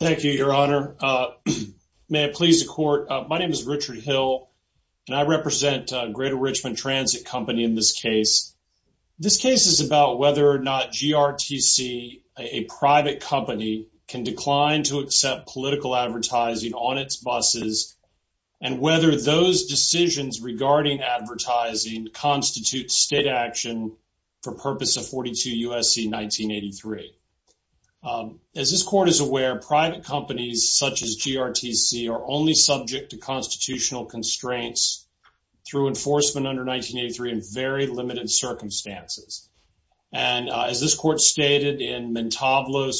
Thank you, your honor. May it please the court, my name is Richard Hill and I represent Greater Richmond Transit Company in this case. This case is about whether or not GRTC, a private company, can decline to accept political advertising on its buses and whether those decisions regarding advertising constitutes state action for purpose of 42 U.S.C. 1983. As this court is aware, private companies such as GRTC are only subject to constitutional constraints through enforcement under 1983 in very limited circumstances and as this court stated in allegedly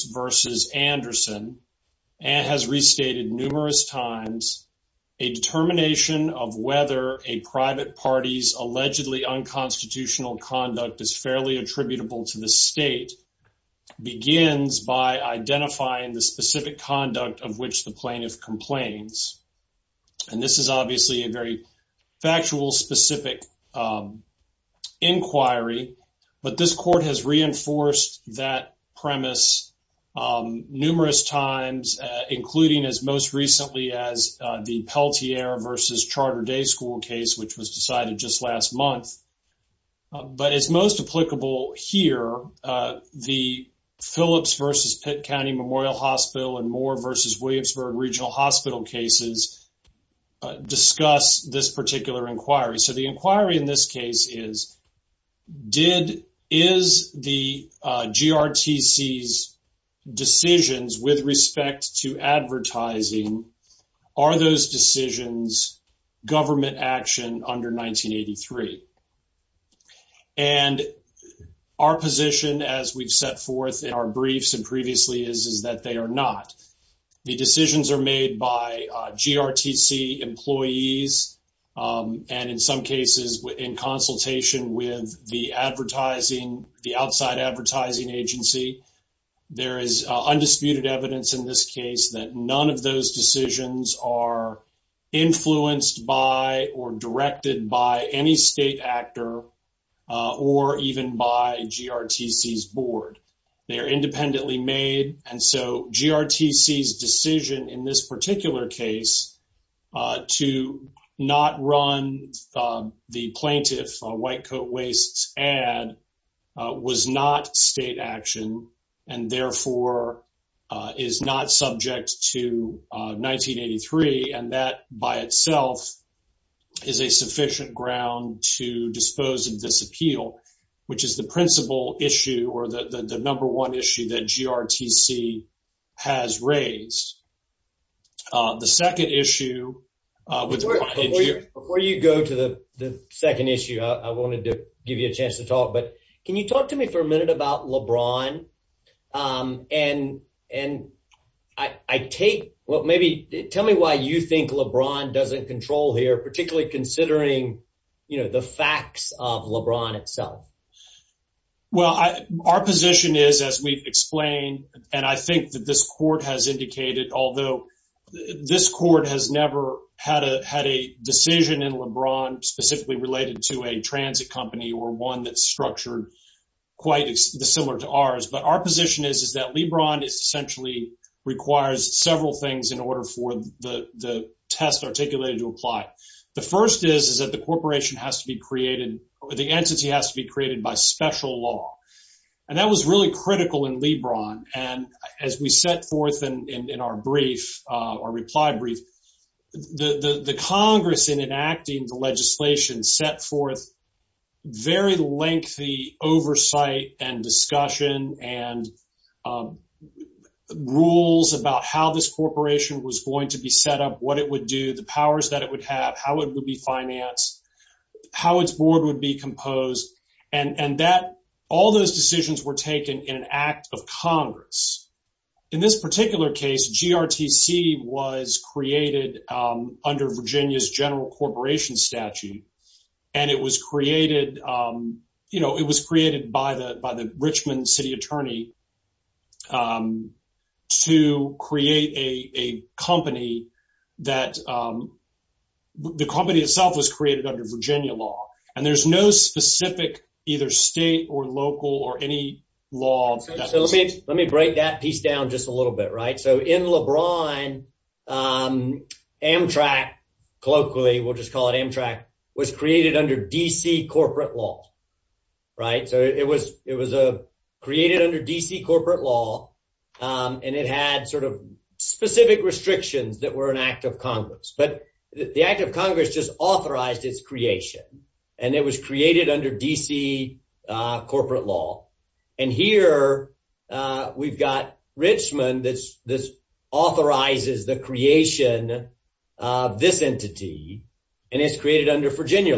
unconstitutional conduct is fairly attributable to the state, begins by identifying the specific conduct of which the plaintiff complains. And this is obviously a very factual specific inquiry, but this court has reinforced that premise numerous times, including as most recently as the Pelletier v. Charter Day School case, which was decided just last month. But as most applicable here, the Phillips v. Pitt County Memorial Hospital and Moore v. Williamsburg Regional Hospital cases discuss this particular inquiry. So the inquiry in this case is, is the GRTC's decisions with respect to advertising, are those decisions government action under 1983? And our position as we've set forth in our briefs and previously is, is that they are not. The decisions are made by GRTC employees and in some cases in consultation with the advertising, the outside advertising agency. There is undisputed evidence in this case that none of those decisions are influenced by or directed by any state actor or even by GRTC's board. They are independently made and so GRTC's decision in this particular case to not run the plaintiff white coat wastes ad was not state action and therefore is not subject to 1983 and that by itself is a sufficient ground to dispose of this appeal, which is the principal issue or the number one issue that GRTC has raised. The second issue, before you go to the second issue, I wanted to give you a chance to talk, but can you talk to me for a minute about LeBron and I take, well maybe tell me why you think LeBron doesn't control here, particularly considering, you know, the facts of LeBron itself. Well, our position is, as we've explained and I think that this court has indicated, although this court has never had a decision in LeBron specifically related to a transit company or one that's structured quite similar to ours, but our position is that LeBron essentially requires several things in order for the test articulated to apply. The first is that the corporation has to be created or the entity has to be created by special law and that was really critical in LeBron and as we set forth in our brief, our reply brief, the Congress in enacting the legislation set forth very lengthy oversight and discussion and rules about how this corporation was going to be set up, what it would do, the powers that it would have, how it would be financed, how its board would be composed, and that all those decisions were taken in an act of Congress. In this particular case, GRTC was created under Virginia's general corporation statute and it was created, you know, it was created by the Richmond city attorney to create a company that, the company itself was created under Virginia law and there's no specific either state or local or any law. So let me break that piece down just a little bit, right? So in was created under D.C. corporate law, right? So it was created under D.C. corporate law and it had sort of specific restrictions that were an act of Congress but the act of Congress just authorized its creation and it was created under D.C. corporate law and here we've got Virginia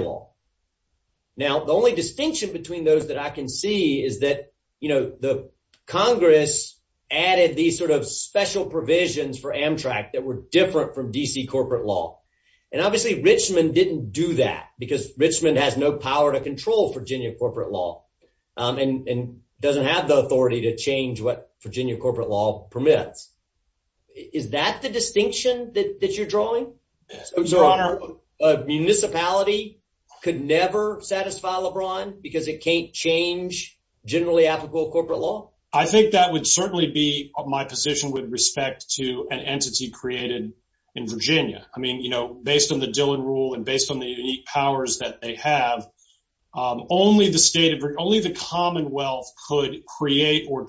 law. Now the only distinction between those that I can see is that, you know, the Congress added these sort of special provisions for Amtrak that were different from D.C. corporate law and obviously Richmond didn't do that because Richmond has no power to control Virginia corporate law and doesn't have the authority to change what Virginia corporate law permits. Is that the distinction that you're drawing? Your Honor, a municipality could never satisfy LeBron because it can't change generally applicable corporate law? I think that would certainly be my position with respect to an entity created in Virginia. I mean, you know, based on the Dillon rule and based on the unique powers that they have, only the state of, only the commonwealth could create or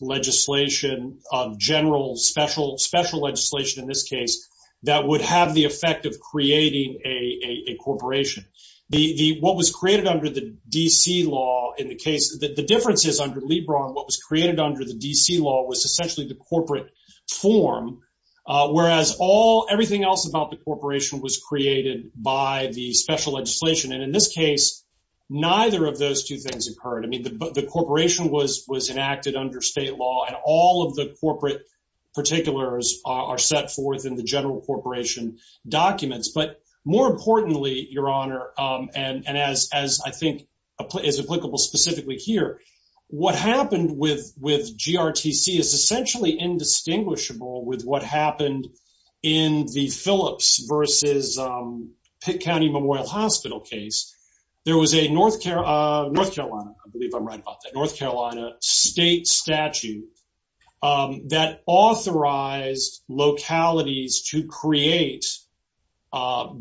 legislation of general special legislation in this case that would have the effect of creating a corporation. What was created under the D.C. law in the case, the difference is under LeBron, what was created under the D.C. law was essentially the corporate form whereas all everything else about the corporation was created by the special legislation and in this case neither of those two things occurred. I mean, the corporation was enacted under state law and all of the corporate particulars are set forth in the general corporation documents but more importantly, Your Honor, and as I think is applicable specifically here, what happened with GRTC is essentially indistinguishable with what happened in the Phillips versus Pitt North Carolina, I believe I'm right about that, North Carolina state statute that authorized localities to create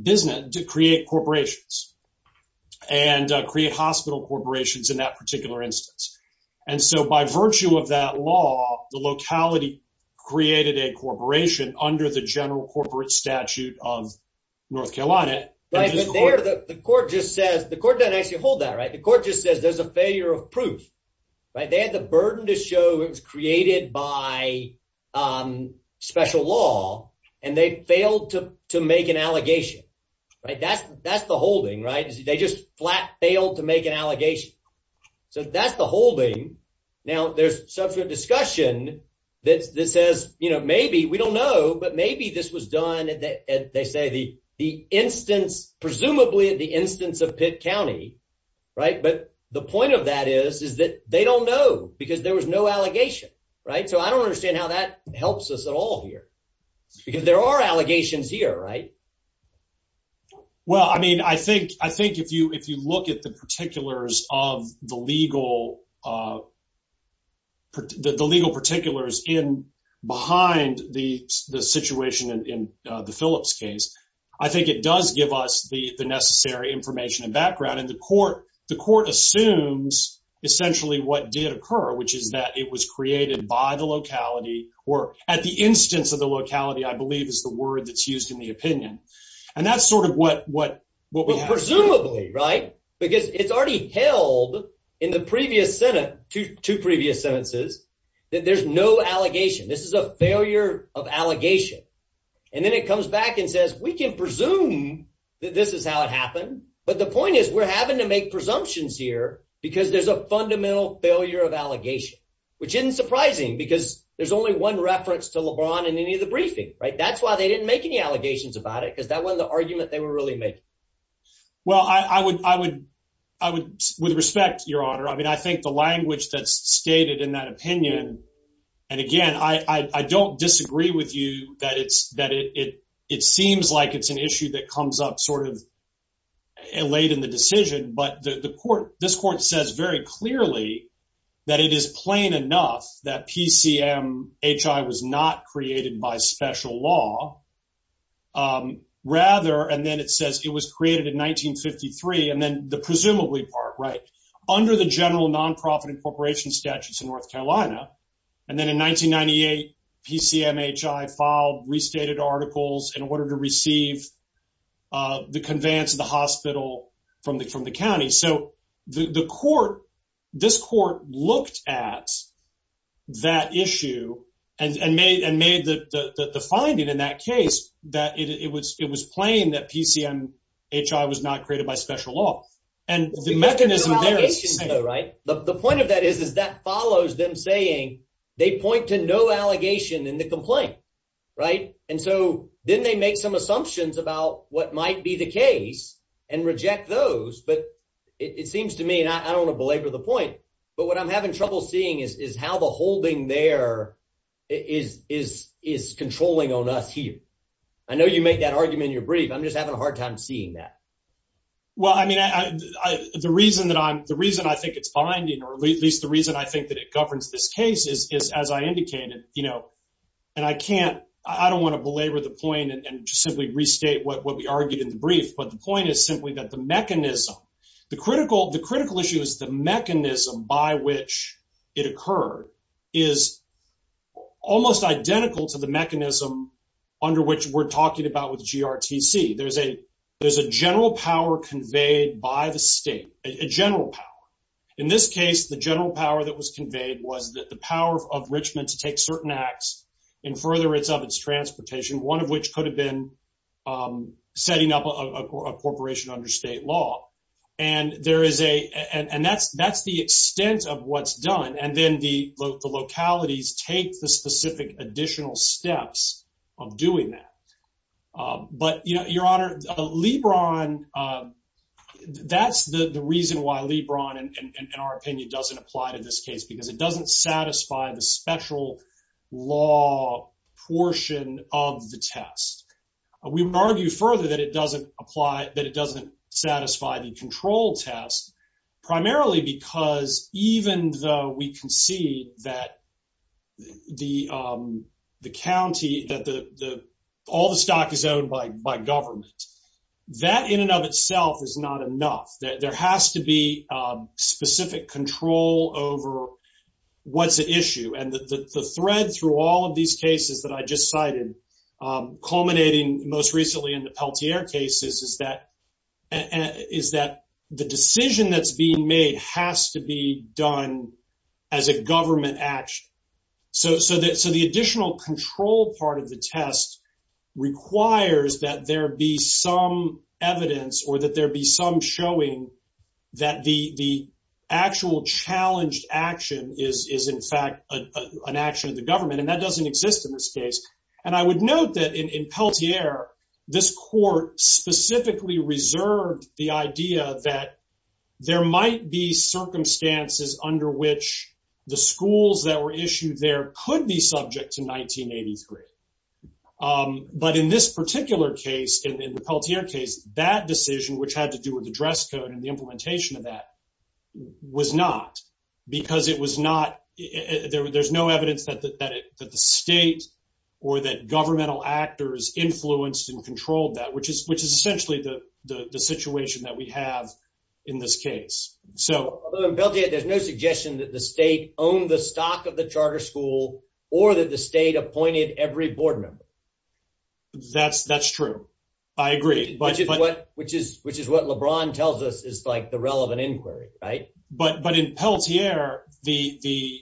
business, to create corporations and create hospital corporations in that particular instance and so by virtue of that law, the locality created a corporation under the general corporate statute of North Carolina. Right, but there the court just says, the court doesn't actually hold that, right, the court just says there's a failure of proof, right, they had the burden to show it was created by special law and they failed to make an allegation, right, that's the holding, right, they just flat failed to make an allegation, so that's the holding. Now, there's subsequent discussion that says, you know, maybe, we don't know, but maybe this was done at, they say, the instance, presumably at the instance of Pitt County, right, but the point of that is, is that they don't know because there was no allegation, right, so I don't understand how that helps us at all here because there are allegations here, right? Well, I mean, I think, I think if you, if you look at the particulars of the legal, uh, the legal particulars in, behind the, the situation in, in the Phillips case, I think it does give us the, the necessary information and background and the court, the court assumes essentially what did occur, which is that it was created by the locality or at the instance of the locality, I believe, is the word that's used in the opinion and that's sort of what, what, what we have. Presumably, right, because it's already held in the previous Senate, two previous sentences, that there's no allegation. This is a failure of allegation and then it comes back and says, we can presume that this is how it happened, but the point is we're having to make presumptions here because there's a fundamental failure of allegation, which isn't surprising because there's only one reference to LeBron in any of the briefing, right? That's why they didn't make any allegations about it because that wasn't the honor. I mean, I think the language that's stated in that opinion, and again, I, I, I don't disagree with you that it's, that it, it, it seems like it's an issue that comes up sort of late in the decision, but the, the court, this court says very clearly that it is plain enough that PCMHI was not created by special law, um, rather, and then it says it was created in 1953 and then the presumably part, right, under the general non-profit incorporation statutes in North Carolina, and then in 1998, PCMHI filed restated articles in order to receive, uh, the conveyance of the hospital from the, from the county. So the, the court, this court looked at that issue and, and made, and made the, the, the finding in that case that it, it was, it was plain that PCMHI was not created by special law. And the mechanism there is the same, right? The point of that is, is that follows them saying they point to no allegation in the complaint, right? And so then they make some assumptions about what might be the case and reject those. But it seems to me, and I don't want to belabor the point, but what I'm having trouble seeing is, is how the holding there is, is, is controlling on us here. I know you make that argument in your brief. I'm just having a hard time seeing that. Well, I mean, I, I, I, the reason that I'm, the reason I think it's finding, or at least the reason I think that it governs this case is, is as I indicated, you know, and I can't, I don't want to belabor the point and just simply restate what, what we argued in the brief. But the point is simply that the mechanism, the critical, the critical issue is the mechanism by which it occurred is almost identical to the mechanism under which we're there's a general power conveyed by the state, a general power. In this case, the general power that was conveyed was that the power of Richmond to take certain acts in furtherance of its transportation, one of which could have been setting up a corporation under state law. And there is a, and that's, that's the extent of what's done. And then the localities take the LeBron. That's the reason why LeBron, in our opinion, doesn't apply to this case, because it doesn't satisfy the special law portion of the test. We would argue further that it doesn't apply, that it doesn't satisfy the control test, primarily because even though we concede that the, the county, that the, the, all the stock is owned by, by government, that in and of itself is not enough, that there has to be specific control over what's at issue. And the thread through all of these cases that I just cited, culminating most recently in the Peltier cases is that, is that the decision that's being made has to be done as a government action. So, so that, so the additional control part of the test requires that there be some evidence or that there be some showing that the, the actual challenged action is, is in fact an action of the government. And that doesn't exist in this case. And I would note that in, in Peltier, this court specifically reserved the idea that there might be circumstances under which the schools that were issued there could be subject to 1983. But in this particular case, in the Peltier case, that decision, which had to do with the dress code and the implementation of that, was not, because it was not, there, there's no evidence that, that, that the state or that governmental actors influenced and controlled that, which is, which is essentially the, the, the situation that we have in this case. So. Although in Peltier, there's no suggestion that the state owned the stock of the charter school or that the state appointed every board member. That's, that's true. I agree. Which is what, which is, which is what LeBron tells us is like the relevant inquiry, right? But, but in Peltier, the, the,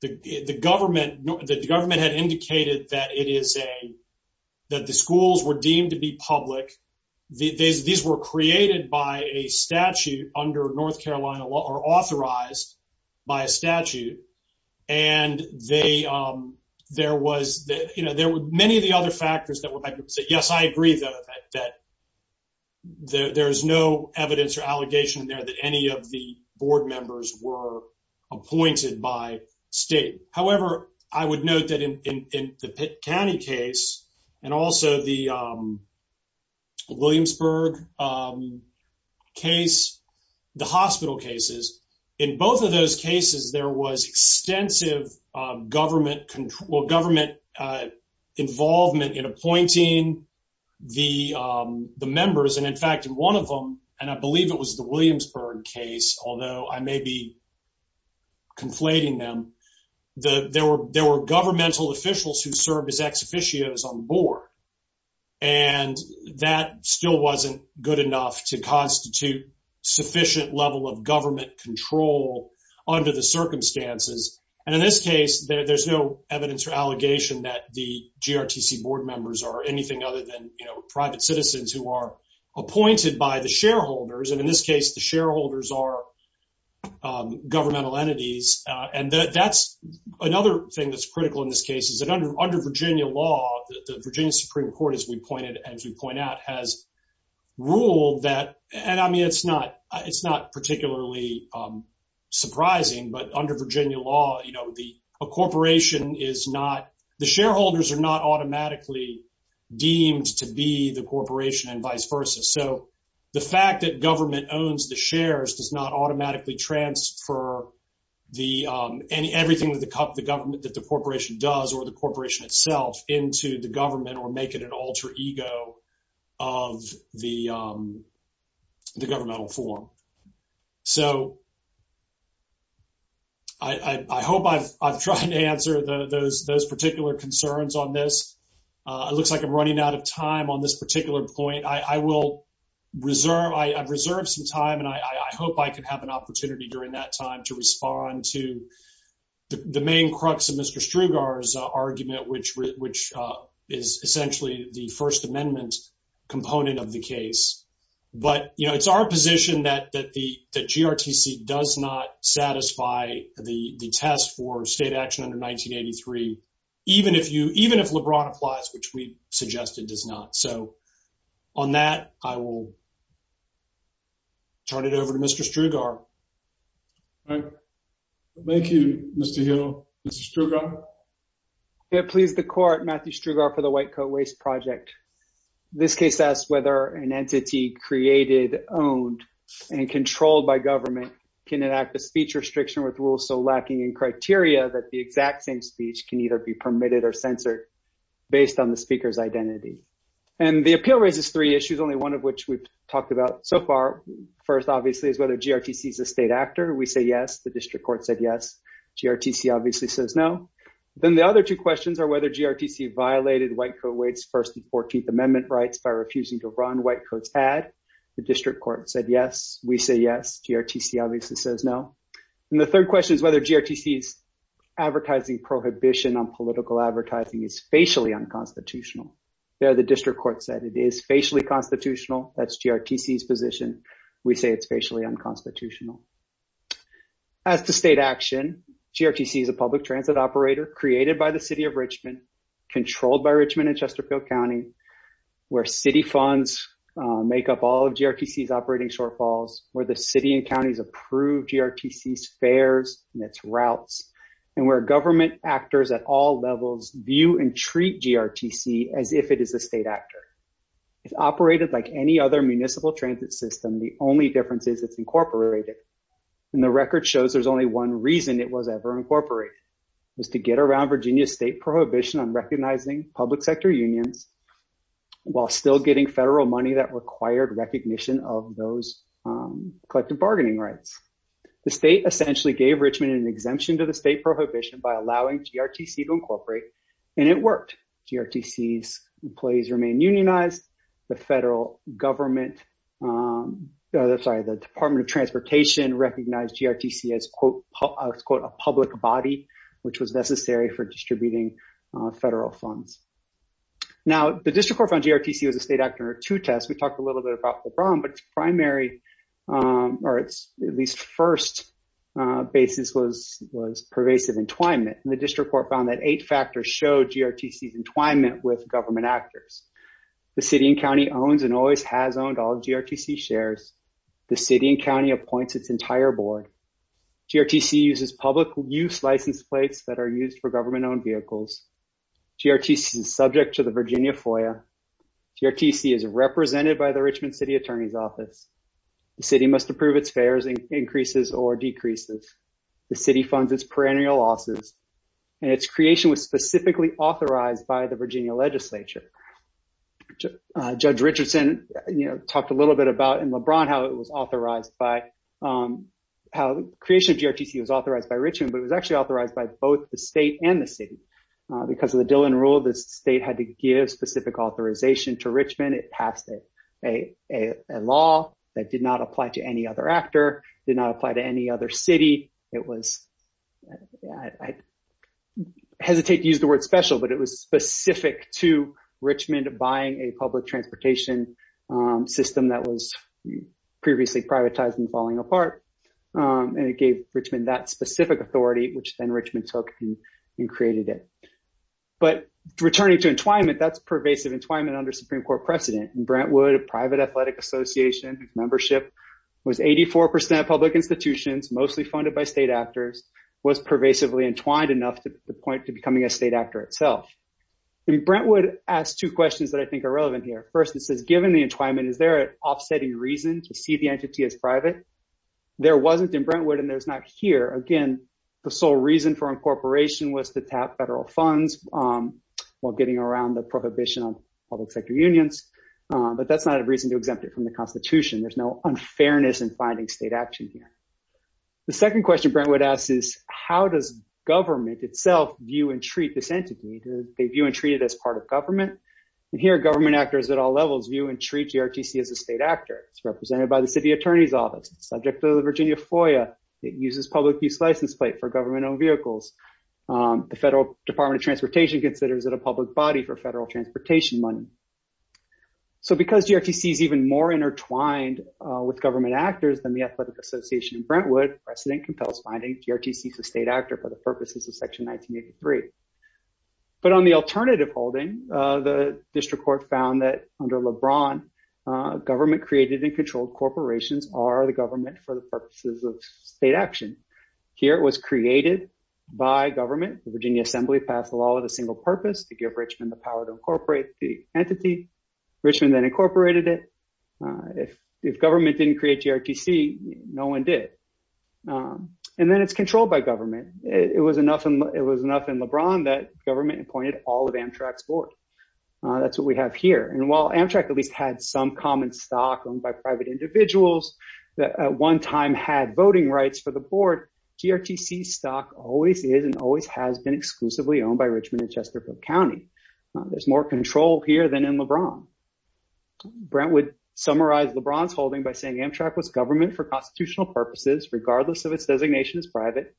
the, the government, the government had indicated that it is a, that the schools were deemed to be public. These, these were created by a statute under North Carolina law, or authorized by a statute. And they, there was, you know, there were many of the other factors that would, I could say, yes, I agree though, that, that there, there's no evidence or allegation there that any of the board members were appointed by state. However, I would note that in, in, in the Pitt County case, and also the Williamsburg case, the hospital cases, in both of those cases, there was extensive government control, government involvement in appointing the, the members. And in fact, in one of them, and I believe it was the Williamsburg case, although I may be conflating them, the, there were, there were governmental officials who served as ex officios on the board. And that still wasn't good enough to constitute sufficient level of government control under the circumstances. And in this case, there's no evidence or allegation that the GRTC board members are anything other than, you know, private citizens who are appointed by the shareholders. And in this case, the shareholders are governmental entities. And that's another thing that's critical in this case is that under, under Virginia law, the Virginia Supreme Court, as we pointed, as we point out, has ruled that, and I mean, it's not, it's not particularly surprising, but under Virginia law, you know, the, a corporation is not, the shareholders are not automatically deemed to be the corporation and vice versa. So the fact that government owns the shares does not automatically transfer the, everything that the government, that the corporation does or the corporation itself into the government or make it an alter ego of the governmental form. So I hope I've, I've tried to answer those, those particular concerns on this. It looks like I'm reserve, I've reserved some time and I hope I could have an opportunity during that time to respond to the main crux of Mr. Strugar's argument, which, which is essentially the first amendment component of the case. But, you know, it's our position that, that the, that GRTC does not satisfy the test for state action under 1983, even if you, even if LeBron applies, which we suggested does not. So on that, I will turn it over to Mr. Strugar. Thank you, Mr. Hill. Mr. Strugar. Yeah, please, the court, Matthew Strugar for the White Coat Waste Project. This case asks whether an entity created, owned, and controlled by government can enact a speech restriction with rules so lacking in criteria that the exact same speech can either be permitted or based on the speaker's identity. And the appeal raises three issues, only one of which we've talked about so far. First, obviously, is whether GRTC is a state actor. We say yes, the district court said yes. GRTC obviously says no. Then the other two questions are whether GRTC violated White Coat Waste's first and 14th amendment rights by refusing to run White Coat's ad. The district court said yes, we say yes, GRTC obviously says no. And the third question is whether GRTC's advertising prohibition on political advertising is facially unconstitutional. There, the district court said it is facially constitutional. That's GRTC's position. We say it's facially unconstitutional. As to state action, GRTC is a public transit operator created by the city of Richmond, controlled by Richmond and Chesterfield County, where city funds make up all of GRTC's operating shortfalls, where the city and counties approved GRTC's fares and its routes, and where government actors at all levels view and treat GRTC as if it is a state actor. If operated like any other municipal transit system, the only difference is it's incorporated. And the record shows there's only one reason it was ever incorporated, was to get around Virginia's state prohibition on recognizing public sector unions while still getting federal money that required recognition of those collective bargaining rights. The state essentially gave Richmond an exemption to the state prohibition by allowing GRTC to incorporate, and it worked. GRTC's employees remained unionized. The federal government, sorry, the Department of Transportation recognized GRTC as, quote, a public body, which was necessary for distributing federal funds. Now, the district court found GRTC was a state actor to test. We basis was pervasive entwinement, and the district court found that eight factors showed GRTC's entwinement with government actors. The city and county owns and always has owned all GRTC shares. The city and county appoints its entire board. GRTC uses public use license plates that are used for government-owned vehicles. GRTC is subject to the Virginia FOIA. GRTC is represented by the the city funds its perennial losses, and its creation was specifically authorized by the Virginia legislature. Judge Richardson, you know, talked a little bit about in LeBron how it was authorized by, how the creation of GRTC was authorized by Richmond, but it was actually authorized by both the state and the city. Because of the Dillon rule, the state had to give specific authorization to Richmond. It passed a law that did not apply to any other actor, did not apply to any other city. It was, I hesitate to use the word special, but it was specific to Richmond buying a public transportation system that was previously privatized and falling apart, and it gave Richmond that specific authority, which then Richmond took and created it. But returning to entwinement, that's pervasive entwinement under Supreme Court precedent. Brentwood, a private athletic association membership, was 84% public institutions, mostly funded by state actors, was pervasively entwined enough to the point to becoming a state actor itself. And Brentwood asked two questions that I think are relevant here. First, it says, given the entwinement, is there an offsetting reason to see the entity as private? There wasn't in Brentwood, and there's not here. Again, the sole reason for incorporation was to tap federal funds while getting around the prohibition on public sector unions, but that's not a reason to exempt it from the Constitution. There's no unfairness in finding state action here. The second question Brentwood asks is, how does government itself view and treat this entity? Do they view and treat it as part of government? And here, government actors at all levels view and treat GRTC as a state actor. It's represented by the city attorney's office. It's subject to the Virginia FOIA. It uses public use license plate for government-owned vehicles. The Federal Department of Transportation considers it a public body for federal transportation money. So because GRTC is even more intertwined with government actors than the athletic association in Brentwood, precedent compels finding GRTC as a state actor for the purposes of Section 1983. But on the alternative holding, the district court found that under LeBron, government-created and controlled corporations are the government for the purposes of state action. Here, it was created by government. The Virginia Assembly passed a law with a single purpose to give Richmond the power to incorporate the entity. Richmond then incorporated it. If government didn't create GRTC, no one did. And then it's controlled by government. It was enough in LeBron that government appointed all of Amtrak's board. That's what we have here. And while Amtrak at least had some common stock owned by private individuals that at one time had voting rights for the board, GRTC stock always is and always has been exclusively owned by Richmond and Chesterfield County. There's more control here than in LeBron. Brentwood summarized LeBron's holding by saying Amtrak was government for constitutional purposes regardless of its designation as private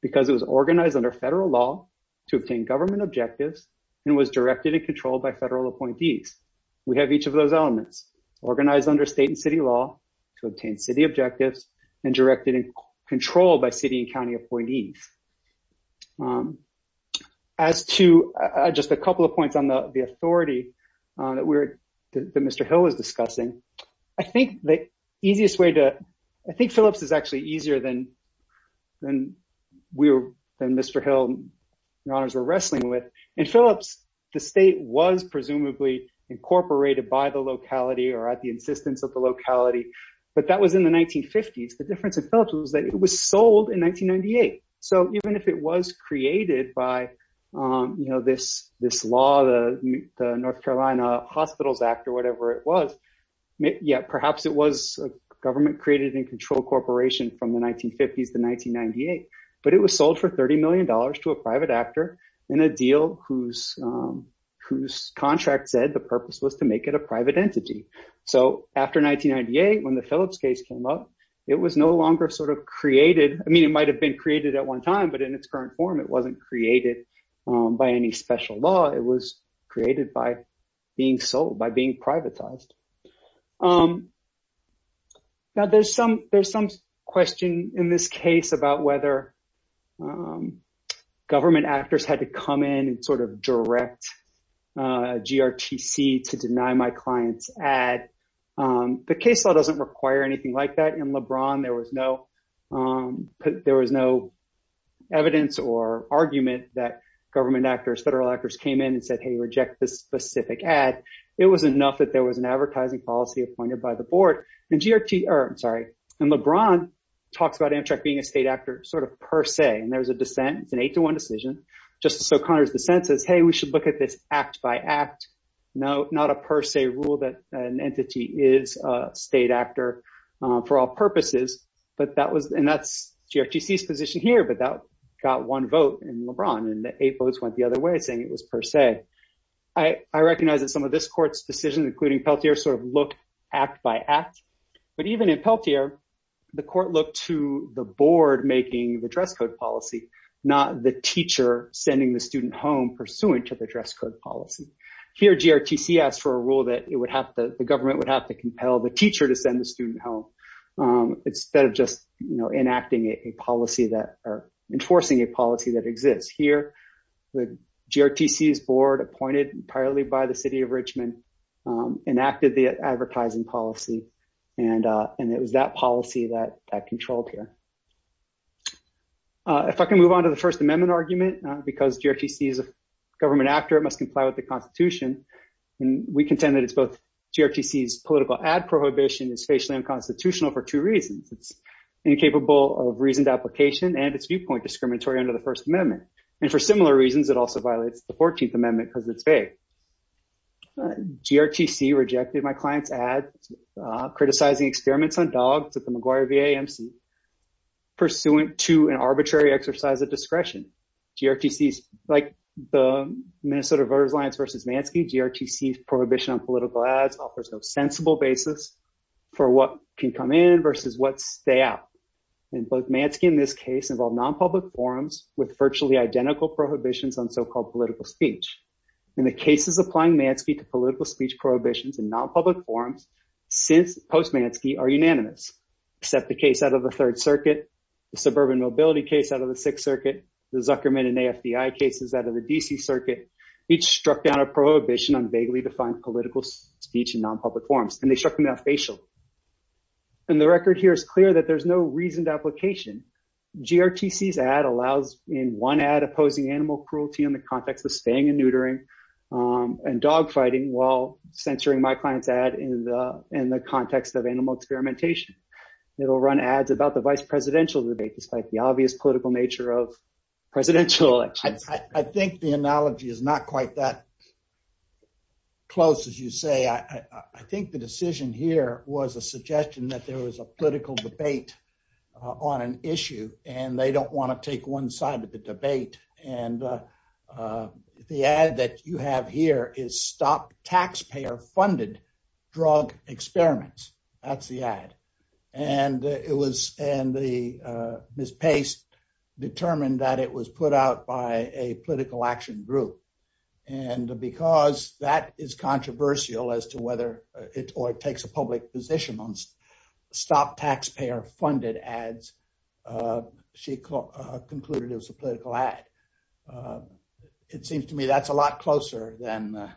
because it was organized under federal law to obtain government objectives and was directed and controlled by federal appointees. We have each of those elements organized under state and city law to obtain city objectives and directed and controlled by city and county appointees. As to just a couple of points on the authority that Mr. Hill is discussing, I think the easiest way to... I think Phillips is actually easier than Mr. Hill and your honors were wrestling with. In Phillips, the state was presumably incorporated by the locality or at the insistence of the locality, but that was in the 1950s. The difference in Phillips was that it was sold in 1998. So even if it was created by this law, the North Carolina Hospitals Act or whatever it was, perhaps it was a government-created and controlled corporation from the 1950s to 1998, but it was sold for $30 million to a private actor in a deal whose contract said the purpose was to make it a private entity. So after 1998, when the Phillips case came up, it was no longer sort of created. I mean, it might have been created at one time, but in its current form, it wasn't created by any special law. It was created by being sold, by being privatized. Now there's some question in this case about whether government actors had to come in and sort of direct GRTC to deny my client's ad. The case law doesn't require anything like that. In LeBron, there was no evidence or argument that government actors, federal actors came in and said, hey, reject this specific ad. It was enough that there was an advertising policy appointed by the board. And LeBron talks about Amtrak being a state actor sort of per se, and there's a dissent. It's an eight-to-one decision. Justice O'Connor's dissent says, hey, we should look at this act by act, not a per se rule that an entity is a state actor for all purposes. And that's GRTC's position here, but that got one vote in LeBron, and the eight votes went the other way, saying it was per se. I recognize that some of this court's decisions, including Peltier, sort of look act by act. But even in Peltier, the court looked to the board making the dress code policy, not the teacher sending the student home pursuant to the dress code policy. Here, GRTC asked for a rule that the government would have to compel the teacher to send the student home, instead of just enacting a policy that, or enforcing a policy that exists. Here, the GRTC's board, appointed entirely by the city of Richmond, enacted the advertising policy, and it was that policy that controlled here. If I can move on to the First Amendment argument, because GRTC is a government actor, it must comply with the Constitution. And we contend that it's both GRTC's political ad prohibition is facially unconstitutional for two reasons. It's incapable of reasoned application, and it's viewpoint discriminatory under the First Amendment. And for similar reasons, it also violates the 14th Amendment because it's vague. GRTC rejected my client's ad, criticizing experiments on dogs at the McGuire VA MC, pursuant to an arbitrary exercise of discretion. GRTC's, like the Minnesota Voters Alliance versus Mansky, GRTC's prohibition on for what can come in versus what stay out. And both Mansky and this case involve non-public forums with virtually identical prohibitions on so-called political speech. And the cases applying Mansky to political speech prohibitions and non-public forums, since post-Mansky, are unanimous. Except the case out of the Third Circuit, the suburban mobility case out of the Sixth Circuit, the Zuckerman and AFDI cases out of the D.C. Circuit, each struck down a prohibition on vaguely defined political speech in non-public forums, and they struck them down facial. And the record here is clear that there's no reasoned application. GRTC's ad allows in one ad opposing animal cruelty in the context of spaying and neutering and dog fighting, while censoring my client's ad in the context of animal experimentation. It'll run ads about the vice presidential debate, despite the obvious political nature of the case. I think the decision here was a suggestion that there was a political debate on an issue, and they don't want to take one side of the debate. And the ad that you have here is stop taxpayer-funded drug experiments. That's the ad. And Ms. Pace determined that it was put out by a political action group. And because that is controversial as to whether it takes a public position on stop taxpayer-funded ads, she concluded it was a political ad. It seems to me that's a lot closer than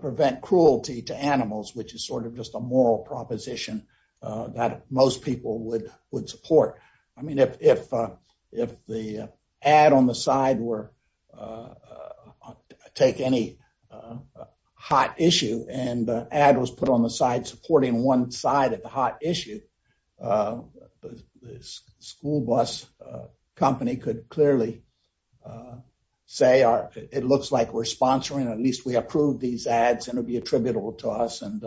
prevent cruelty to animals, which is sort of just a moral proposition that most people would support. I mean, if the ad on the side were to take any hot issue, and the ad was put on the side supporting one side of the hot issue, the school bus company could clearly say, it looks like we're sponsoring, at least we approved these ads, and it'll be attributable to us, and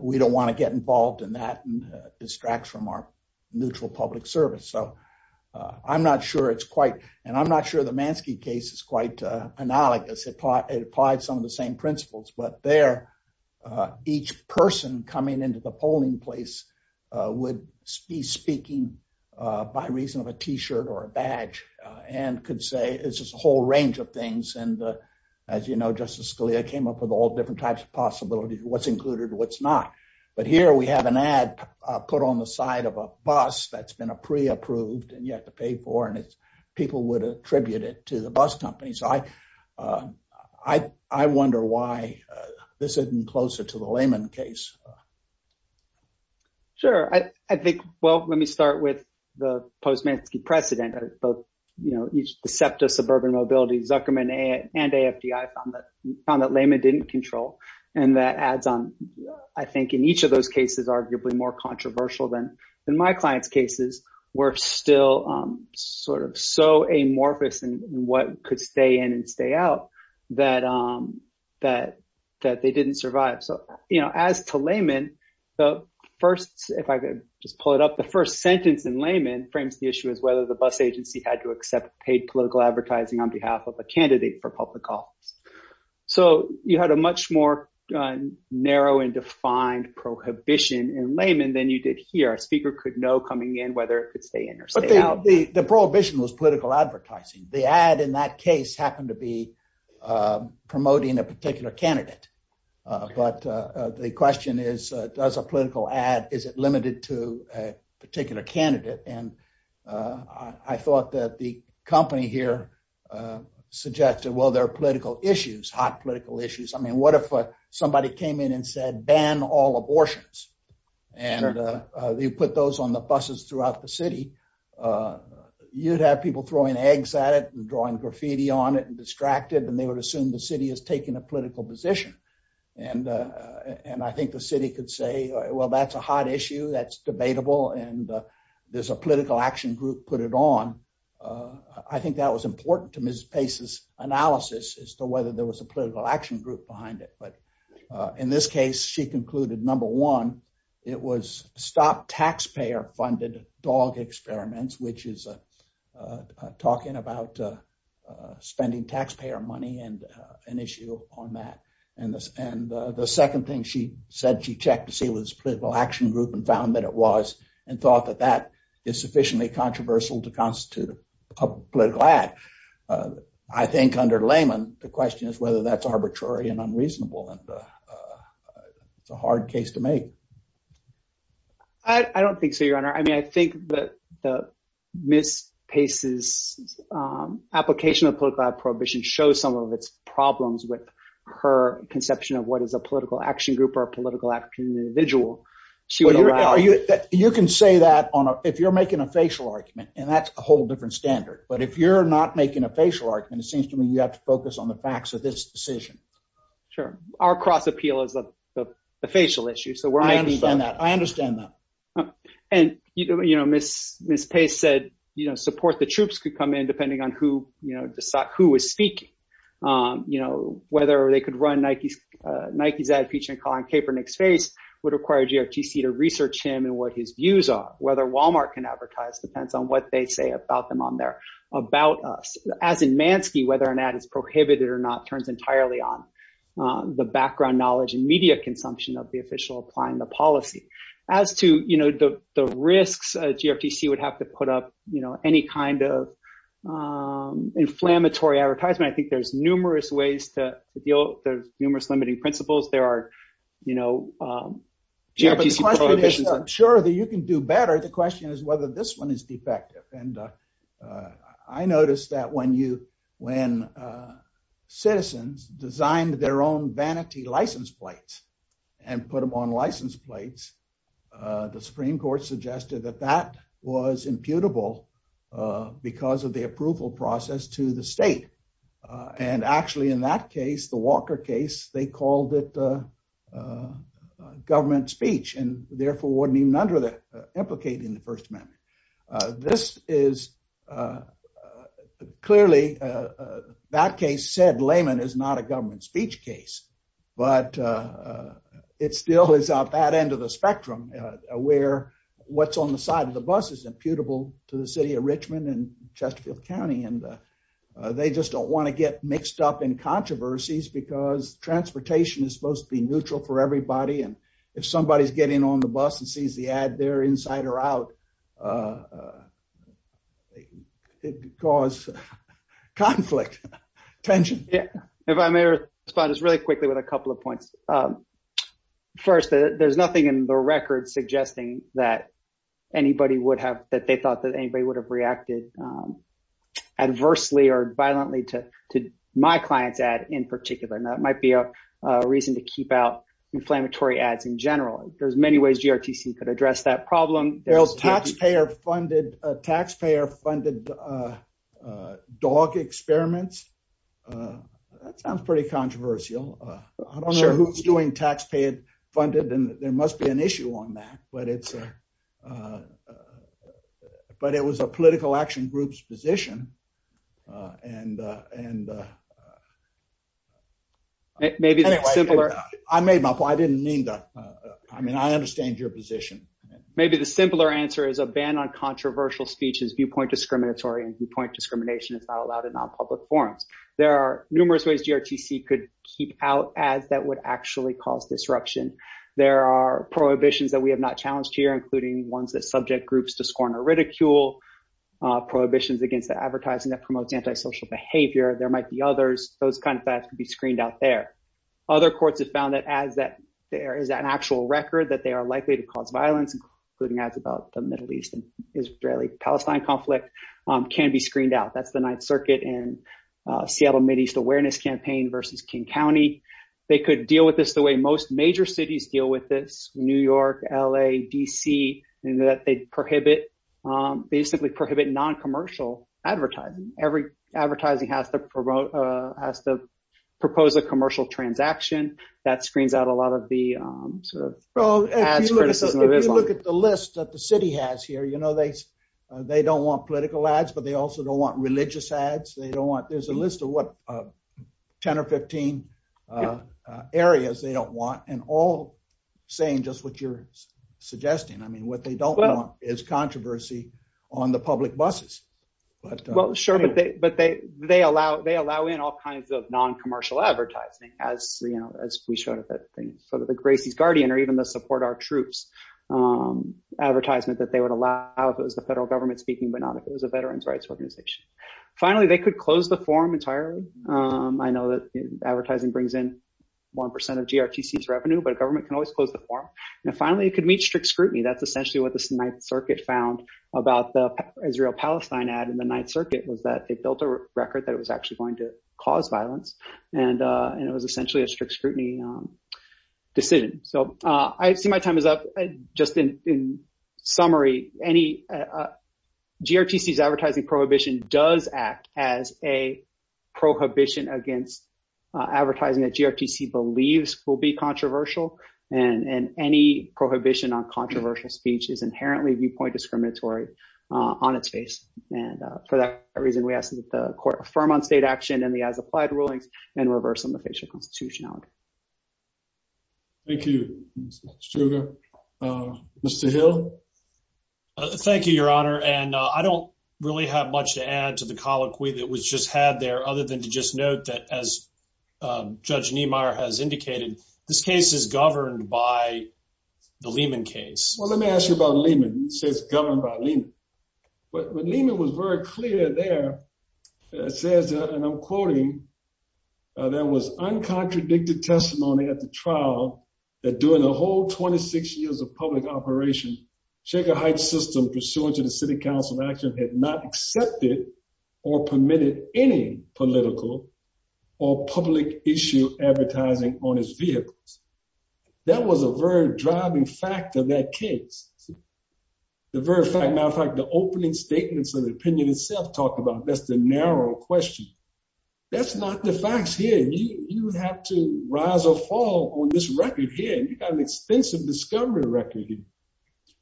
we don't want to get involved in that and distract from our neutral public service. So I'm not sure it's quite, and I'm not sure the Mansky case is quite analogous. It applied some of the same principles. But there, each person coming into the polling place would be speaking by reason of a t-shirt or a badge, and could say, it's just a whole range of things. And as you know, Justice Scalia came up with all different types of possibilities, what's included, what's not. But here we have an ad put on the side of a bus that's been pre-approved, and you have to pay for, and people would attribute it to the bus company. So I wonder why this isn't closer to the Lehman case. Sure. I think, well, let me Zuckerman and AFDI found that Lehman didn't control. And that adds on, I think, in each of those cases, arguably more controversial than my clients' cases, were still sort of so amorphous in what could stay in and stay out that they didn't survive. So as to Lehman, the first, if I could just pull it up, the first sentence in Lehman frames the issue as whether the bus agency had to accept paid political advertising on behalf of a candidate for public office. So you had a much more narrow and defined prohibition in Lehman than you did here. A speaker could know coming in whether it could stay in or stay out. But the prohibition was political advertising. The ad in that case happened to be promoting a particular candidate. But the question is, does a political ad, is it limited to a particular candidate? And I thought that the company here suggested, well, there are political issues, hot political issues. I mean, what if somebody came in and said, ban all abortions? And they put those on the buses throughout the city. You'd have people throwing eggs at it and drawing graffiti on it and distracted, and they would assume the city is taking a political position. And I think the city could say, well, that's a hot issue, that's debatable, and there's a political action group put it on. I think that was important to Ms. Pace's analysis as to whether there was a political action group behind it. But in this case, she concluded, number one, it was stop taxpayer-funded dog experiments, which is talking about spending taxpayer money and an issue on that. And the second thing she said, she checked to see if it was a political action group and found that it was, and thought that that is sufficiently controversial to constitute a political ad. I think under Layman, the question is whether that's arbitrary and unreasonable, and it's a hard case to make. I don't think so, I mean, I think that Ms. Pace's application of political ad prohibition shows some of its problems with her conception of what is a political action group or a political action individual. You can say that if you're making a facial argument, and that's a whole different standard. But if you're not making a facial argument, it seems to me you have to focus on the facts of this decision. Sure. Our cross appeal is the facial issue, so we're making that. I understand that. And, you know, Ms. Pace said, you know, support the troops could come in depending on who, you know, who is speaking. You know, whether they could run Nike's ad featuring Colin Kaepernick's face would require GRTC to research him and what his views are. Whether Walmart can advertise depends on what they say about them on their, about us. As in Mansky, whether an ad is prohibited or not turns entirely on the background knowledge and media consumption of the official applying the policy. As to, you know, the risks, GRTC would have to put up, you know, any kind of inflammatory advertisement. I think there's numerous ways to deal with the numerous limiting principles. There are, you know, GRTC prohibitions. Sure, that you can do better. The question is whether this one is defective. And I noticed that when you, when citizens designed their own vanity license plates and put them on license plates, the Supreme Court suggested that that was imputable because of the approval process to the state. And actually in that case, the Walker case, they called it a government speech and therefore wouldn't even implicate in the first amendment. This is clearly, that case said layman is not a government speech case, but it still is out that end of the spectrum where what's on the side of the bus is imputable to the city of Richmond and Chesterfield County. And they just don't want to get mixed up in controversies because transportation is supposed to be neutral for everybody. And if somebody's in on the bus and sees the ad they're inside or out, it could cause conflict, tension. Yeah. If I may respond just really quickly with a couple of points. First, there's nothing in the record suggesting that anybody would have, that they thought that anybody would have reacted adversely or violently to my client's ad in particular. And that might be a reason to keep inflammatory ads in general. There's many ways GRTC could address that problem. Well, taxpayer funded dog experiments. That sounds pretty controversial. I don't know who's doing taxpayer funded and there must be an issue on that, but it was a political action group's position. I understand your position. Maybe the simpler answer is a ban on controversial speech is viewpoint discriminatory and viewpoint discrimination is not allowed in non-public forms. There are numerous ways GRTC could keep out ads that would actually cause disruption. There are prohibitions that we have not challenged here, including ones that subject groups to scorn or ridicule, prohibitions against the advertising that promotes antisocial behavior. There might be others. Those kinds of ads could be screened out there. Other courts have found that as that there is an actual record that they are likely to cause violence, including ads about the Middle East and Israeli-Palestine conflict can be screened out. That's the Ninth Circuit and Seattle Mideast Awareness Campaign versus King County. They could deal with this the way most major cities deal with this, New York, LA, DC, in that they basically prohibit non-commercial advertising. Every advertising has to propose a commercial transaction that screens out a lot of the sort of ad criticism. If you look at the list that the city has here, they don't want political ads, but they also don't want religious ads. There's a list of 10 or 15 areas they don't want, and all saying just what you're suggesting. I mean, what they don't want is controversy on the public buses. Sure, but they allow in all kinds of non-commercial advertising, as we showed at that thing, sort of the Gracie's Guardian or even the Support Our Troops advertisement that they would allow if it was the federal government speaking, but not if it was a veterans' rights organization. Finally, they could close the forum entirely. I know that advertising brings in 1% of GRTC's revenue, but a government can always close the forum. Finally, it could meet strict scrutiny. That's essentially what the Ninth Circuit found about the Israel-Palestine ad in the Ninth Circuit was that they built a record that it was actually going to cause violence, and it was essentially a strict scrutiny decision. I see my time is up. Just in summary, GRTC's advertising prohibition does act as a prohibition against advertising that GRTC believes will be controversial, and any prohibition on controversial speech is inherently viewpoint discriminatory on its face. For that reason, we ask that the court affirm on state action and the as-applied rulings and reverse them to facial constitutionality. Thank you, Mr. Struger. Mr. Hill? Thank you, Your Honor, and I don't really have much to add to the colloquy that was just had there other than to just note that, as Judge Niemeyer has indicated, this case is governed by the Lehman case. Well, let me ask you about Lehman. You say it's governed by Lehman, but Lehman was very clear there. It says, and I'm quoting, there was uncontradicted testimony at the trial that during a whole 26 years of public operation, Shaker Heights System, pursuant to the City Council action, had not accepted or permitted any political or public issue advertising on its vehicles. That was a very driving fact of that case. As a matter of fact, the opening statements of the opinion itself talked about, that's the narrow question. That's not the facts here. You have to rise or fall on this record here, and you've got an extensive discovery record here.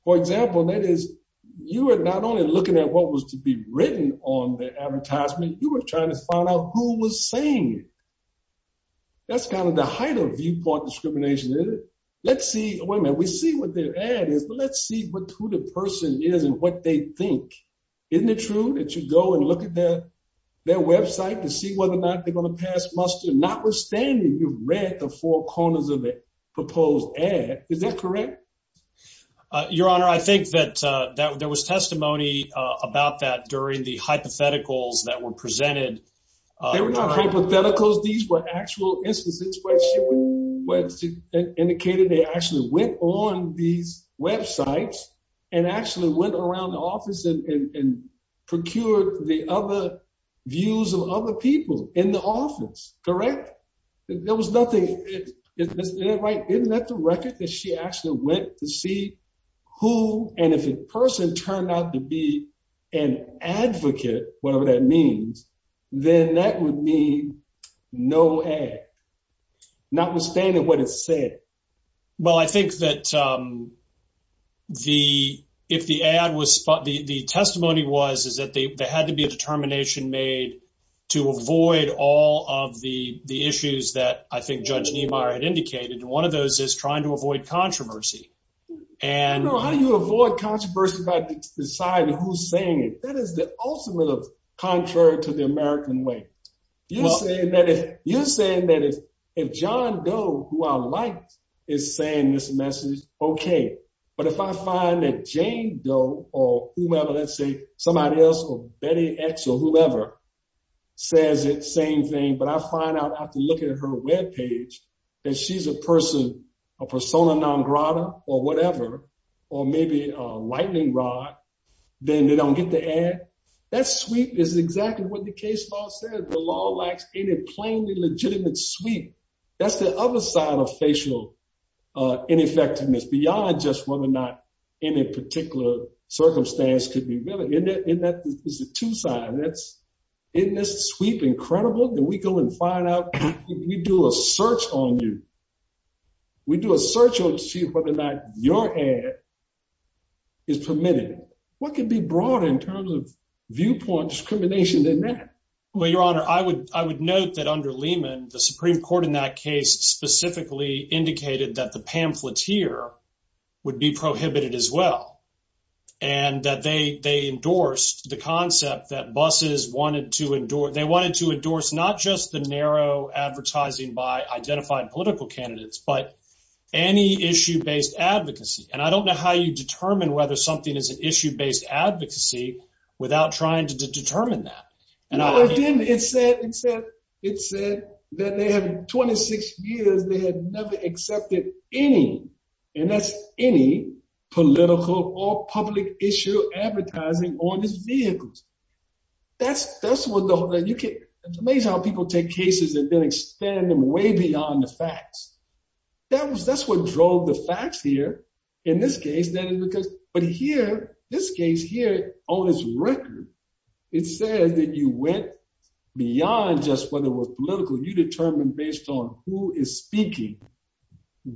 For example, that is, you are not only looking at what was to be written on the advertisement, you were trying to find out who was saying it. That's kind of the height of viewport discrimination, isn't it? Let's see, wait a minute, we see what their ad is, but let's see who the person is and what they think. Isn't it true that you go and look at their website to see whether or not they're going to pass muster, notwithstanding you've read the four corners of proposed ad? Is that correct? Your Honor, I think that there was testimony about that during the hypotheticals that were presented. They were not hypotheticals. These were actual instances where indicated they actually went on these websites and actually went around the office and procured the other views of other people in the office, correct? Isn't that the record that she actually went to see who, and if a person turned out to be an advocate, whatever that means, then that would mean no ad, notwithstanding what it said. Well, I think that the testimony was that there had to be a determination made to avoid all of the issues that I think Judge Niemeyer had indicated, and one of those is trying to avoid controversy. You know, how do you avoid controversy by deciding who's saying it? That is the ultimate of contrary to the American way. You're saying that if John Doe, who I liked, is saying this message, okay, but if I find that or whomever, let's say somebody else or Betty X or whoever says it, same thing, but I find out after looking at her webpage that she's a person, a persona non grata or whatever, or maybe a lightning rod, then they don't get the ad? That sweep is exactly what the case law says. The law lacks any plainly legitimate sweep. That's the other side of facial ineffectiveness beyond just whether or not any particular circumstance could be relevant. Isn't that the two sides? Isn't this sweep incredible? We go and find out. We do a search on you. We do a search to see whether or not your ad is permitted. What could be brought in terms of viewpoint discrimination in that? Well, Your Honor, I would note that under Lehman, the Supreme Court in that case specifically indicated that the pamphlet here would be prohibited as well and that they endorsed the concept that buses wanted to endorse. They wanted to endorse not just the narrow advertising by identified political candidates, but any issue-based advocacy. I don't know how you determine whether something is an issue-based advocacy without trying to determine that. Other than it said that they had 26 years, they had never accepted any, and that's any, political or public issue advertising on these vehicles. It's amazing how people take cases and then extend them way beyond the facts. That's what drove the facts here in this case. But here, this case here, on its record, it says that you went beyond just whether it was political. You determined based on who is speaking,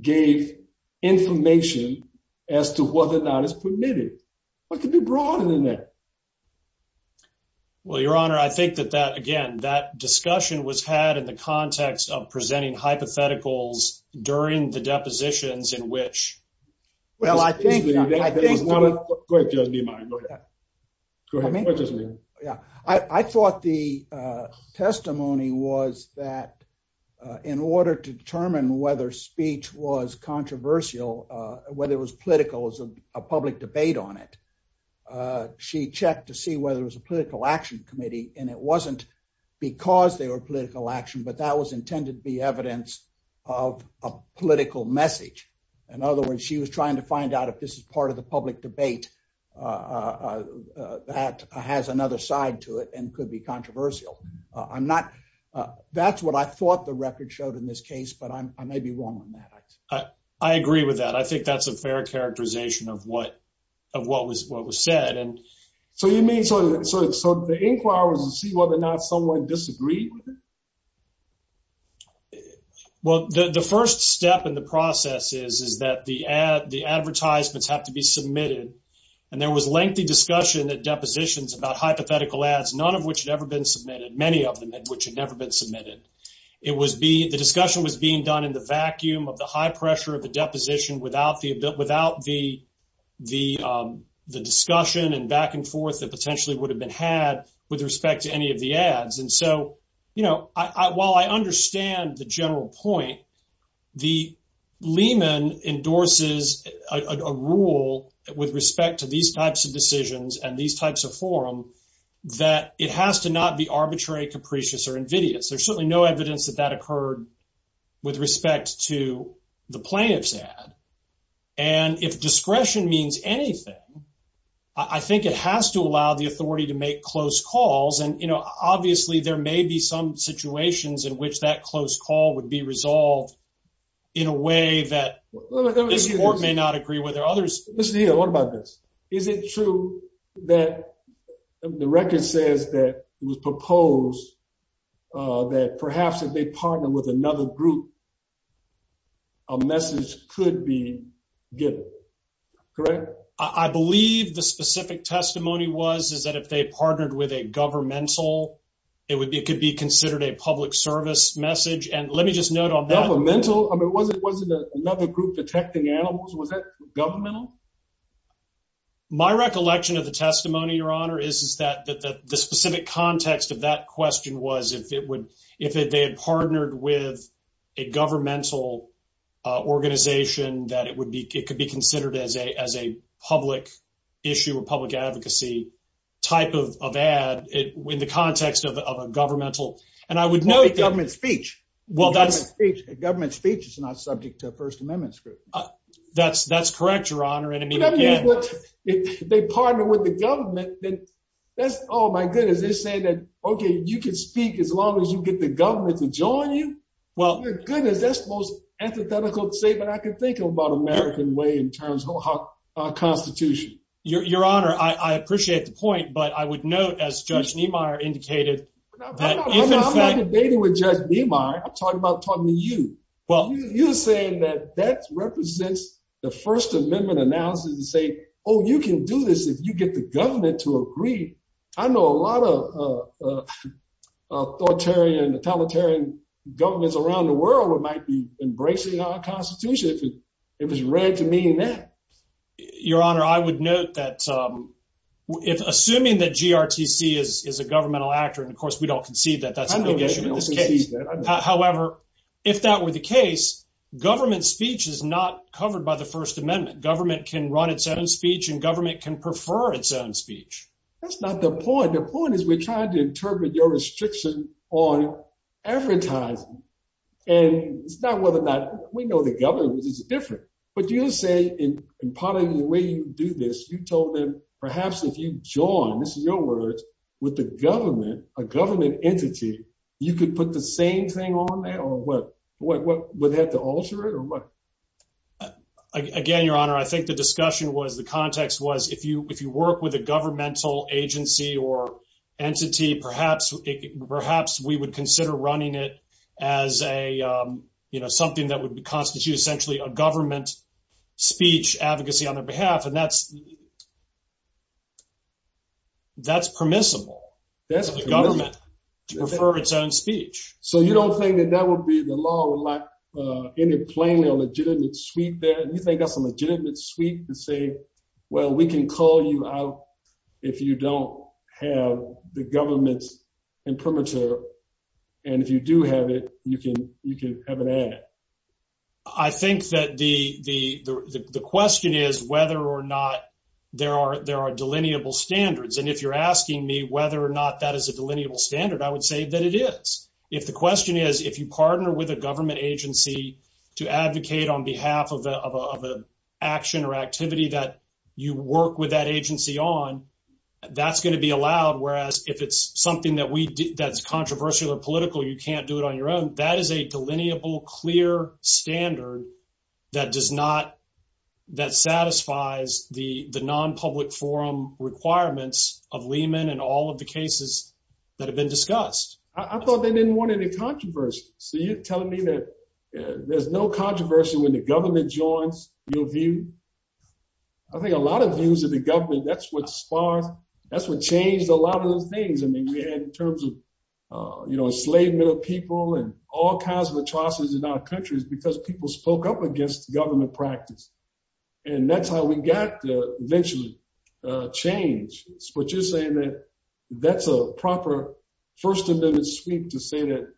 gave information as to whether or not it's permitted. What could be brought in there? Well, Your Honor, I think that that, again, that discussion was had in the context of presenting hypotheticals during the depositions in which... Well, I think... Go ahead, Judge Niemeyer. Go ahead. Go ahead, Judge Niemeyer. Yeah. I thought the testimony was that in order to determine whether speech was controversial, whether it was political as a public debate on it, she checked to see whether it was a political action committee and it wasn't because they were political action, but that was intended to be evidence of a political message. In other words, she was trying to find out if this is part of public debate that has another side to it and could be controversial. I'm not... That's what I thought the record showed in this case, but I may be wrong on that. I agree with that. I think that's a fair characterization of what was said. So you mean, so the inquiry was to see whether or not someone disagreed with it? Well, the first step in the process is that the advertisements have to be submitted. And there was lengthy discussion at depositions about hypothetical ads, none of which had ever been submitted, many of them which had never been submitted. The discussion was being done in the vacuum of the high pressure of the deposition without the discussion and back and forth that potentially would have been had with respect to any of the ads. And so, while I with respect to these types of decisions and these types of forum, that it has to not be arbitrary, capricious, or invidious. There's certainly no evidence that that occurred with respect to the plaintiff's ad. And if discretion means anything, I think it has to allow the authority to make close calls. And, you know, obviously there may be some situations in which that close call would be resolved in a way that this court may not agree with or others. Listen here, what about this? Is it true that the record says that it was proposed that perhaps if they partner with another group, a message could be given, correct? I believe the specific testimony was is that if they partnered with a governmental, it could be considered a public service message. And let me just note on that. Governmental? I mean, wasn't another group detecting animals? Was that governmental? My recollection of the testimony, your honor, is that the specific context of that question was if they had partnered with a governmental organization, that it could be considered as a issue of public advocacy type of ad in the context of a governmental. And I would note government speech. Government speech is not subject to a First Amendment scrutiny. That's correct, your honor. And I mean, if they partnered with the government, that's, oh, my goodness, they're saying that, okay, you can speak as long as you get the government to join you. Well, goodness, that's the most antithetical statement I can think of American way in terms of our Constitution. Your honor, I appreciate the point, but I would note, as Judge Niemeyer indicated, that in fact... I'm not debating with Judge Niemeyer. I'm talking about talking to you. You're saying that that represents the First Amendment analysis to say, oh, you can do this if you get the government to agree. I know a lot of authoritarian, totalitarian governments around the world might be embracing our Constitution if it was read to mean that. Your honor, I would note that assuming that GRTC is a governmental actor, and of course, we don't concede that that's an issue in this case. However, if that were the case, government speech is not covered by the First Amendment. Government can run its own speech and government can prefer its own speech. That's not the point. The point is we're trying to interpret your advertising, and it's not whether or not we know the government is different, but you say in part of the way you do this, you told them perhaps if you join, this is your words, with the government, a government entity, you could put the same thing on there or what? Would they have to alter it or what? Again, your honor, I think the discussion was, the context was, if you work with a governmental agency or entity, perhaps we would consider running it as something that would constitute essentially a government speech advocacy on their behalf, and that's permissible. That's permissible. The government can prefer its own speech. So you don't think that that would be the law in a plain or legitimate suite there? You think that's a legitimate suite to say, well, we can call you out if you don't have the government's imprimatur, and if you do have it, you can have an ad? I think that the question is whether or not there are delineable standards, and if you're asking me whether or not that is a delineable standard, I would say that it is. If the question is, you partner with a government agency to advocate on behalf of an action or activity that you work with that agency on, that's going to be allowed, whereas if it's something that's controversial or political, you can't do it on your own. That is a delineable, clear standard that satisfies the non-public forum requirements of Lehman and all of the cases that have been discussed. I thought they didn't want any controversy. So you're telling me that there's no controversy when the government joins your view? I think a lot of views of the government, that's what sparked, that's what changed a lot of those things. I mean, we had in terms of enslavement of people and all kinds of atrocities in our countries because people spoke up against government practice, and that's how we got to eventually change. But you're saying that that's a proper First Amendment sweep to say that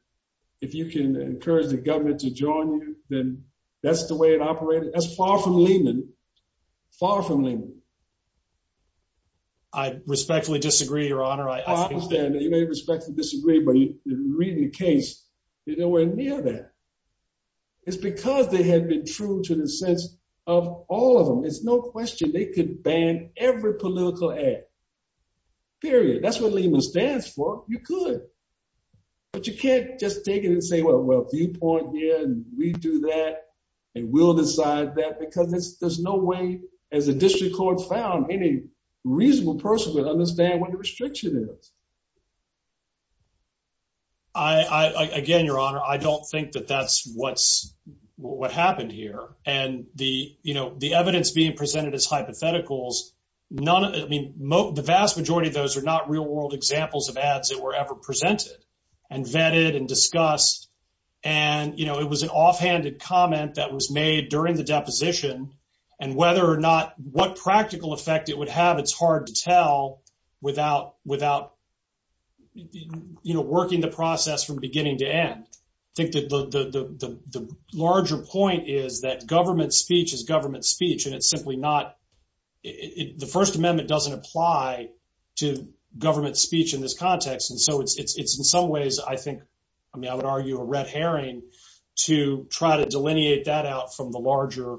if you can encourage the government to join you, then that's the way it operated? That's far from Lehman. Far from Lehman. I respectfully disagree, Your Honor. I understand that you may respectfully disagree, but in reading the case, you're nowhere near that. It's because they had been true to the sense of all of them. It's no question they could ban every political act. Period. That's what Lehman stands for. You could. But you can't just take it and say, well, viewpoint here, and we do that, and we'll decide that, because there's no way, as a district court found, any reasonable person would understand what the restriction is. Again, Your Honor, I don't think that that's what happened here. And the evidence being presented as hypotheticals, the vast majority of those are not real world examples of ads that were ever presented and vetted and discussed. And it was an offhanded comment that was made during the deposition, and whether or not what practical effect it would have, it's hard to tell without you know, working the process from beginning to end. I think that the larger point is that government speech is government speech, and it's simply not, the First Amendment doesn't apply to government speech in this context. And so it's in some ways, I think, I mean, I would argue a red herring to try to delineate that out from the larger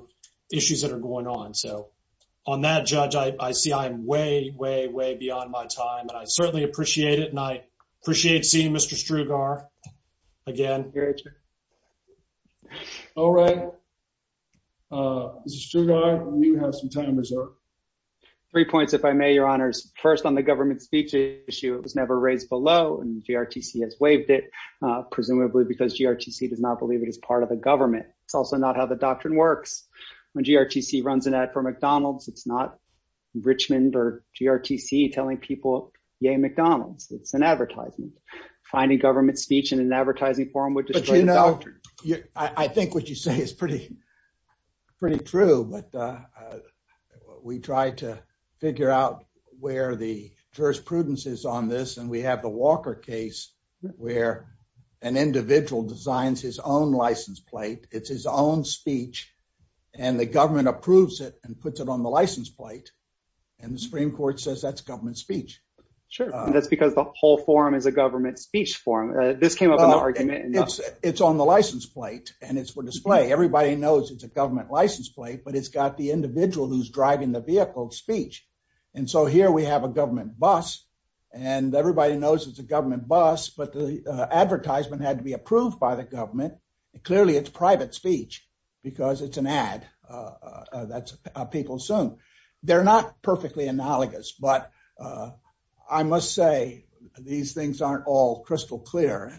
issues that are going on. So on that, Judge, I see I'm way, way, way beyond my time, and I certainly appreciate it, and I appreciate seeing Mr. Strugar again. All right. Mr. Strugar, you have some time reserved. Three points, if I may, Your Honors. First, on the government speech issue, it was never raised below, and GRTC has waived it, presumably because GRTC does not believe it is part of the government. It's also not how the doctrine works. When GRTC runs an ad for McDonald's, it's not Richmond or GRTC telling people, yay McDonald's. It's an advertisement. Finding government speech in an advertising forum would destroy the doctrine. But you know, I think what you say is pretty, pretty true, but we try to figure out where the jurisprudence is on this, and we have the Walker case where an individual designs his own license plate, it's his own speech, and the government approves it and puts it on the license plate, and the Supreme Court says that's government speech. Sure. That's because the whole forum is a government speech forum. This came up in the argument. It's on the license plate, and it's for display. Everybody knows it's a government license plate, but it's got the individual who's driving the vehicle's speech. And so here we have a government bus, but the advertisement had to be approved by the government. Clearly, it's private speech because it's an ad that people assume. They're not perfectly analogous, but I must say these things aren't all crystal clear.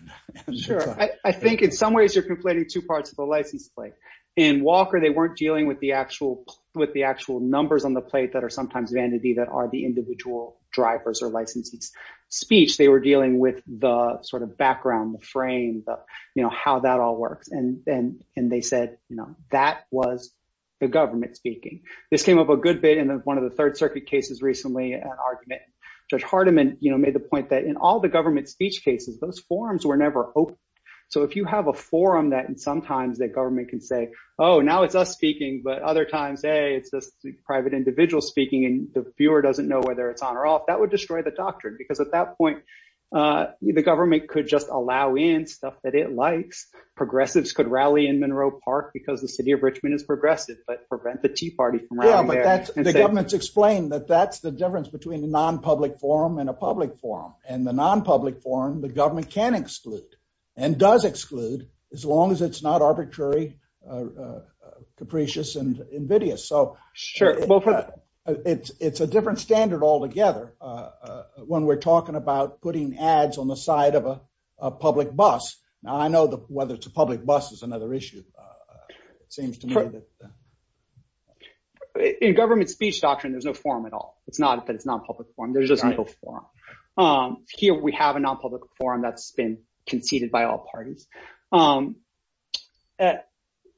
Sure. I think in some ways you're conflating two parts of the license plate. In Walker, they weren't dealing with the actual numbers on the plate that are the individual drivers or licensees' speech. They were dealing with the background, the frame, how that all works, and they said that was the government speaking. This came up a good bit in one of the Third Circuit cases recently, an argument. Judge Hardiman made the point that in all the government speech cases, those forums were never open. So if you have a forum that sometimes the government can say, oh, now it's us speaking, but other times, hey, it's just private individuals speaking, and the viewer doesn't know whether it's on or off, that would destroy the doctrine. Because at that point, the government could just allow in stuff that it likes. Progressives could rally in Monroe Park because the city of Richmond is progressive, but prevent the Tea Party from rallying there. Yeah, but the government's explained that that's the difference between a non-public forum and a public forum. In the non-public forum, the government can exclude and does exclude as long as it's not arbitrary, capricious, and invidious. So it's a different standard altogether when we're talking about putting ads on the side of a public bus. Now, I know whether it's a public bus is another issue, it seems to me. In government speech doctrine, there's no forum at all. It's not that it's not a public forum. There's just no forum. Here, we have a non-public forum that's been conceded by all parties.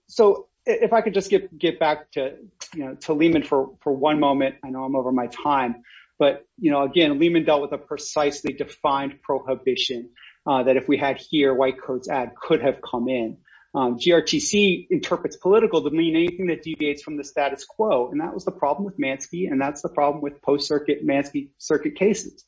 So if I could just get back to Lehman for one moment, I know I'm over my time, but again, Lehman dealt with a precisely defined prohibition that if we had here, white coats ad could have come in. GRTC interprets political to mean anything that deviates from the status quo, and that was the problem with Mansky, and that's the problem with post-circuit Mansky circuit cases.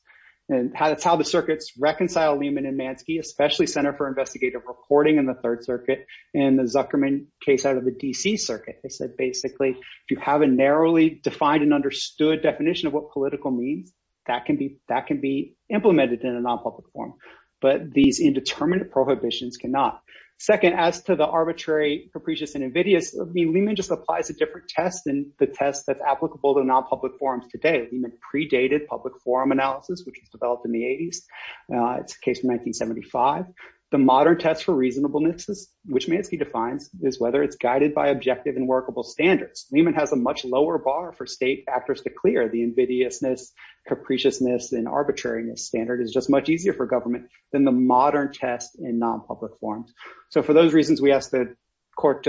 And that's how the circuits reconcile Lehman and Mansky, especially Center for Investigative Reporting in the Third Circuit and the Zuckerman case out of the DC circuit. They said basically, if you have a narrowly defined and understood definition of what political means, that can be implemented in a non-public forum, but these indeterminate prohibitions cannot. Second, as to the arbitrary capricious and invidious, I mean, Lehman just applies a Lehman predated public forum analysis, which was developed in the 80s. It's a case from 1975. The modern test for reasonableness, which Mansky defines, is whether it's guided by objective and workable standards. Lehman has a much lower bar for state factors to clear the invidiousness, capriciousness, and arbitrariness standard is just much easier for government than the modern test in non-public forums. So for those reasons, we asked the court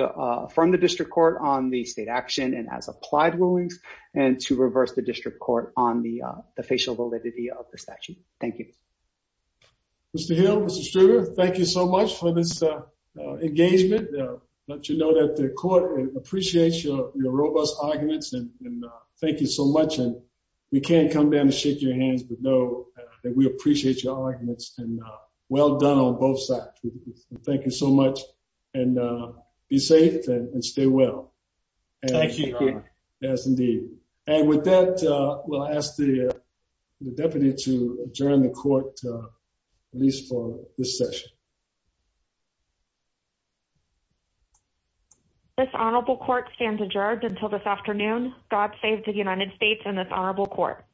from the district court on the state action and as applied rulings, and to reverse the district court on the facial validity of the statute. Thank you. Mr. Hill, Mr. Struger, thank you so much for this engagement. Let you know that the court appreciates your robust arguments and thank you so much. And we can't come down and shake your hands, but know that we appreciate your arguments and well done on both sides. Thank you so much and be safe and stay well. Thank you, Your Honor. Yes, indeed. And with that, we'll ask the deputy to adjourn the court, at least for this session. This honorable court stands adjourned until this afternoon. God save the United States and this honorable court.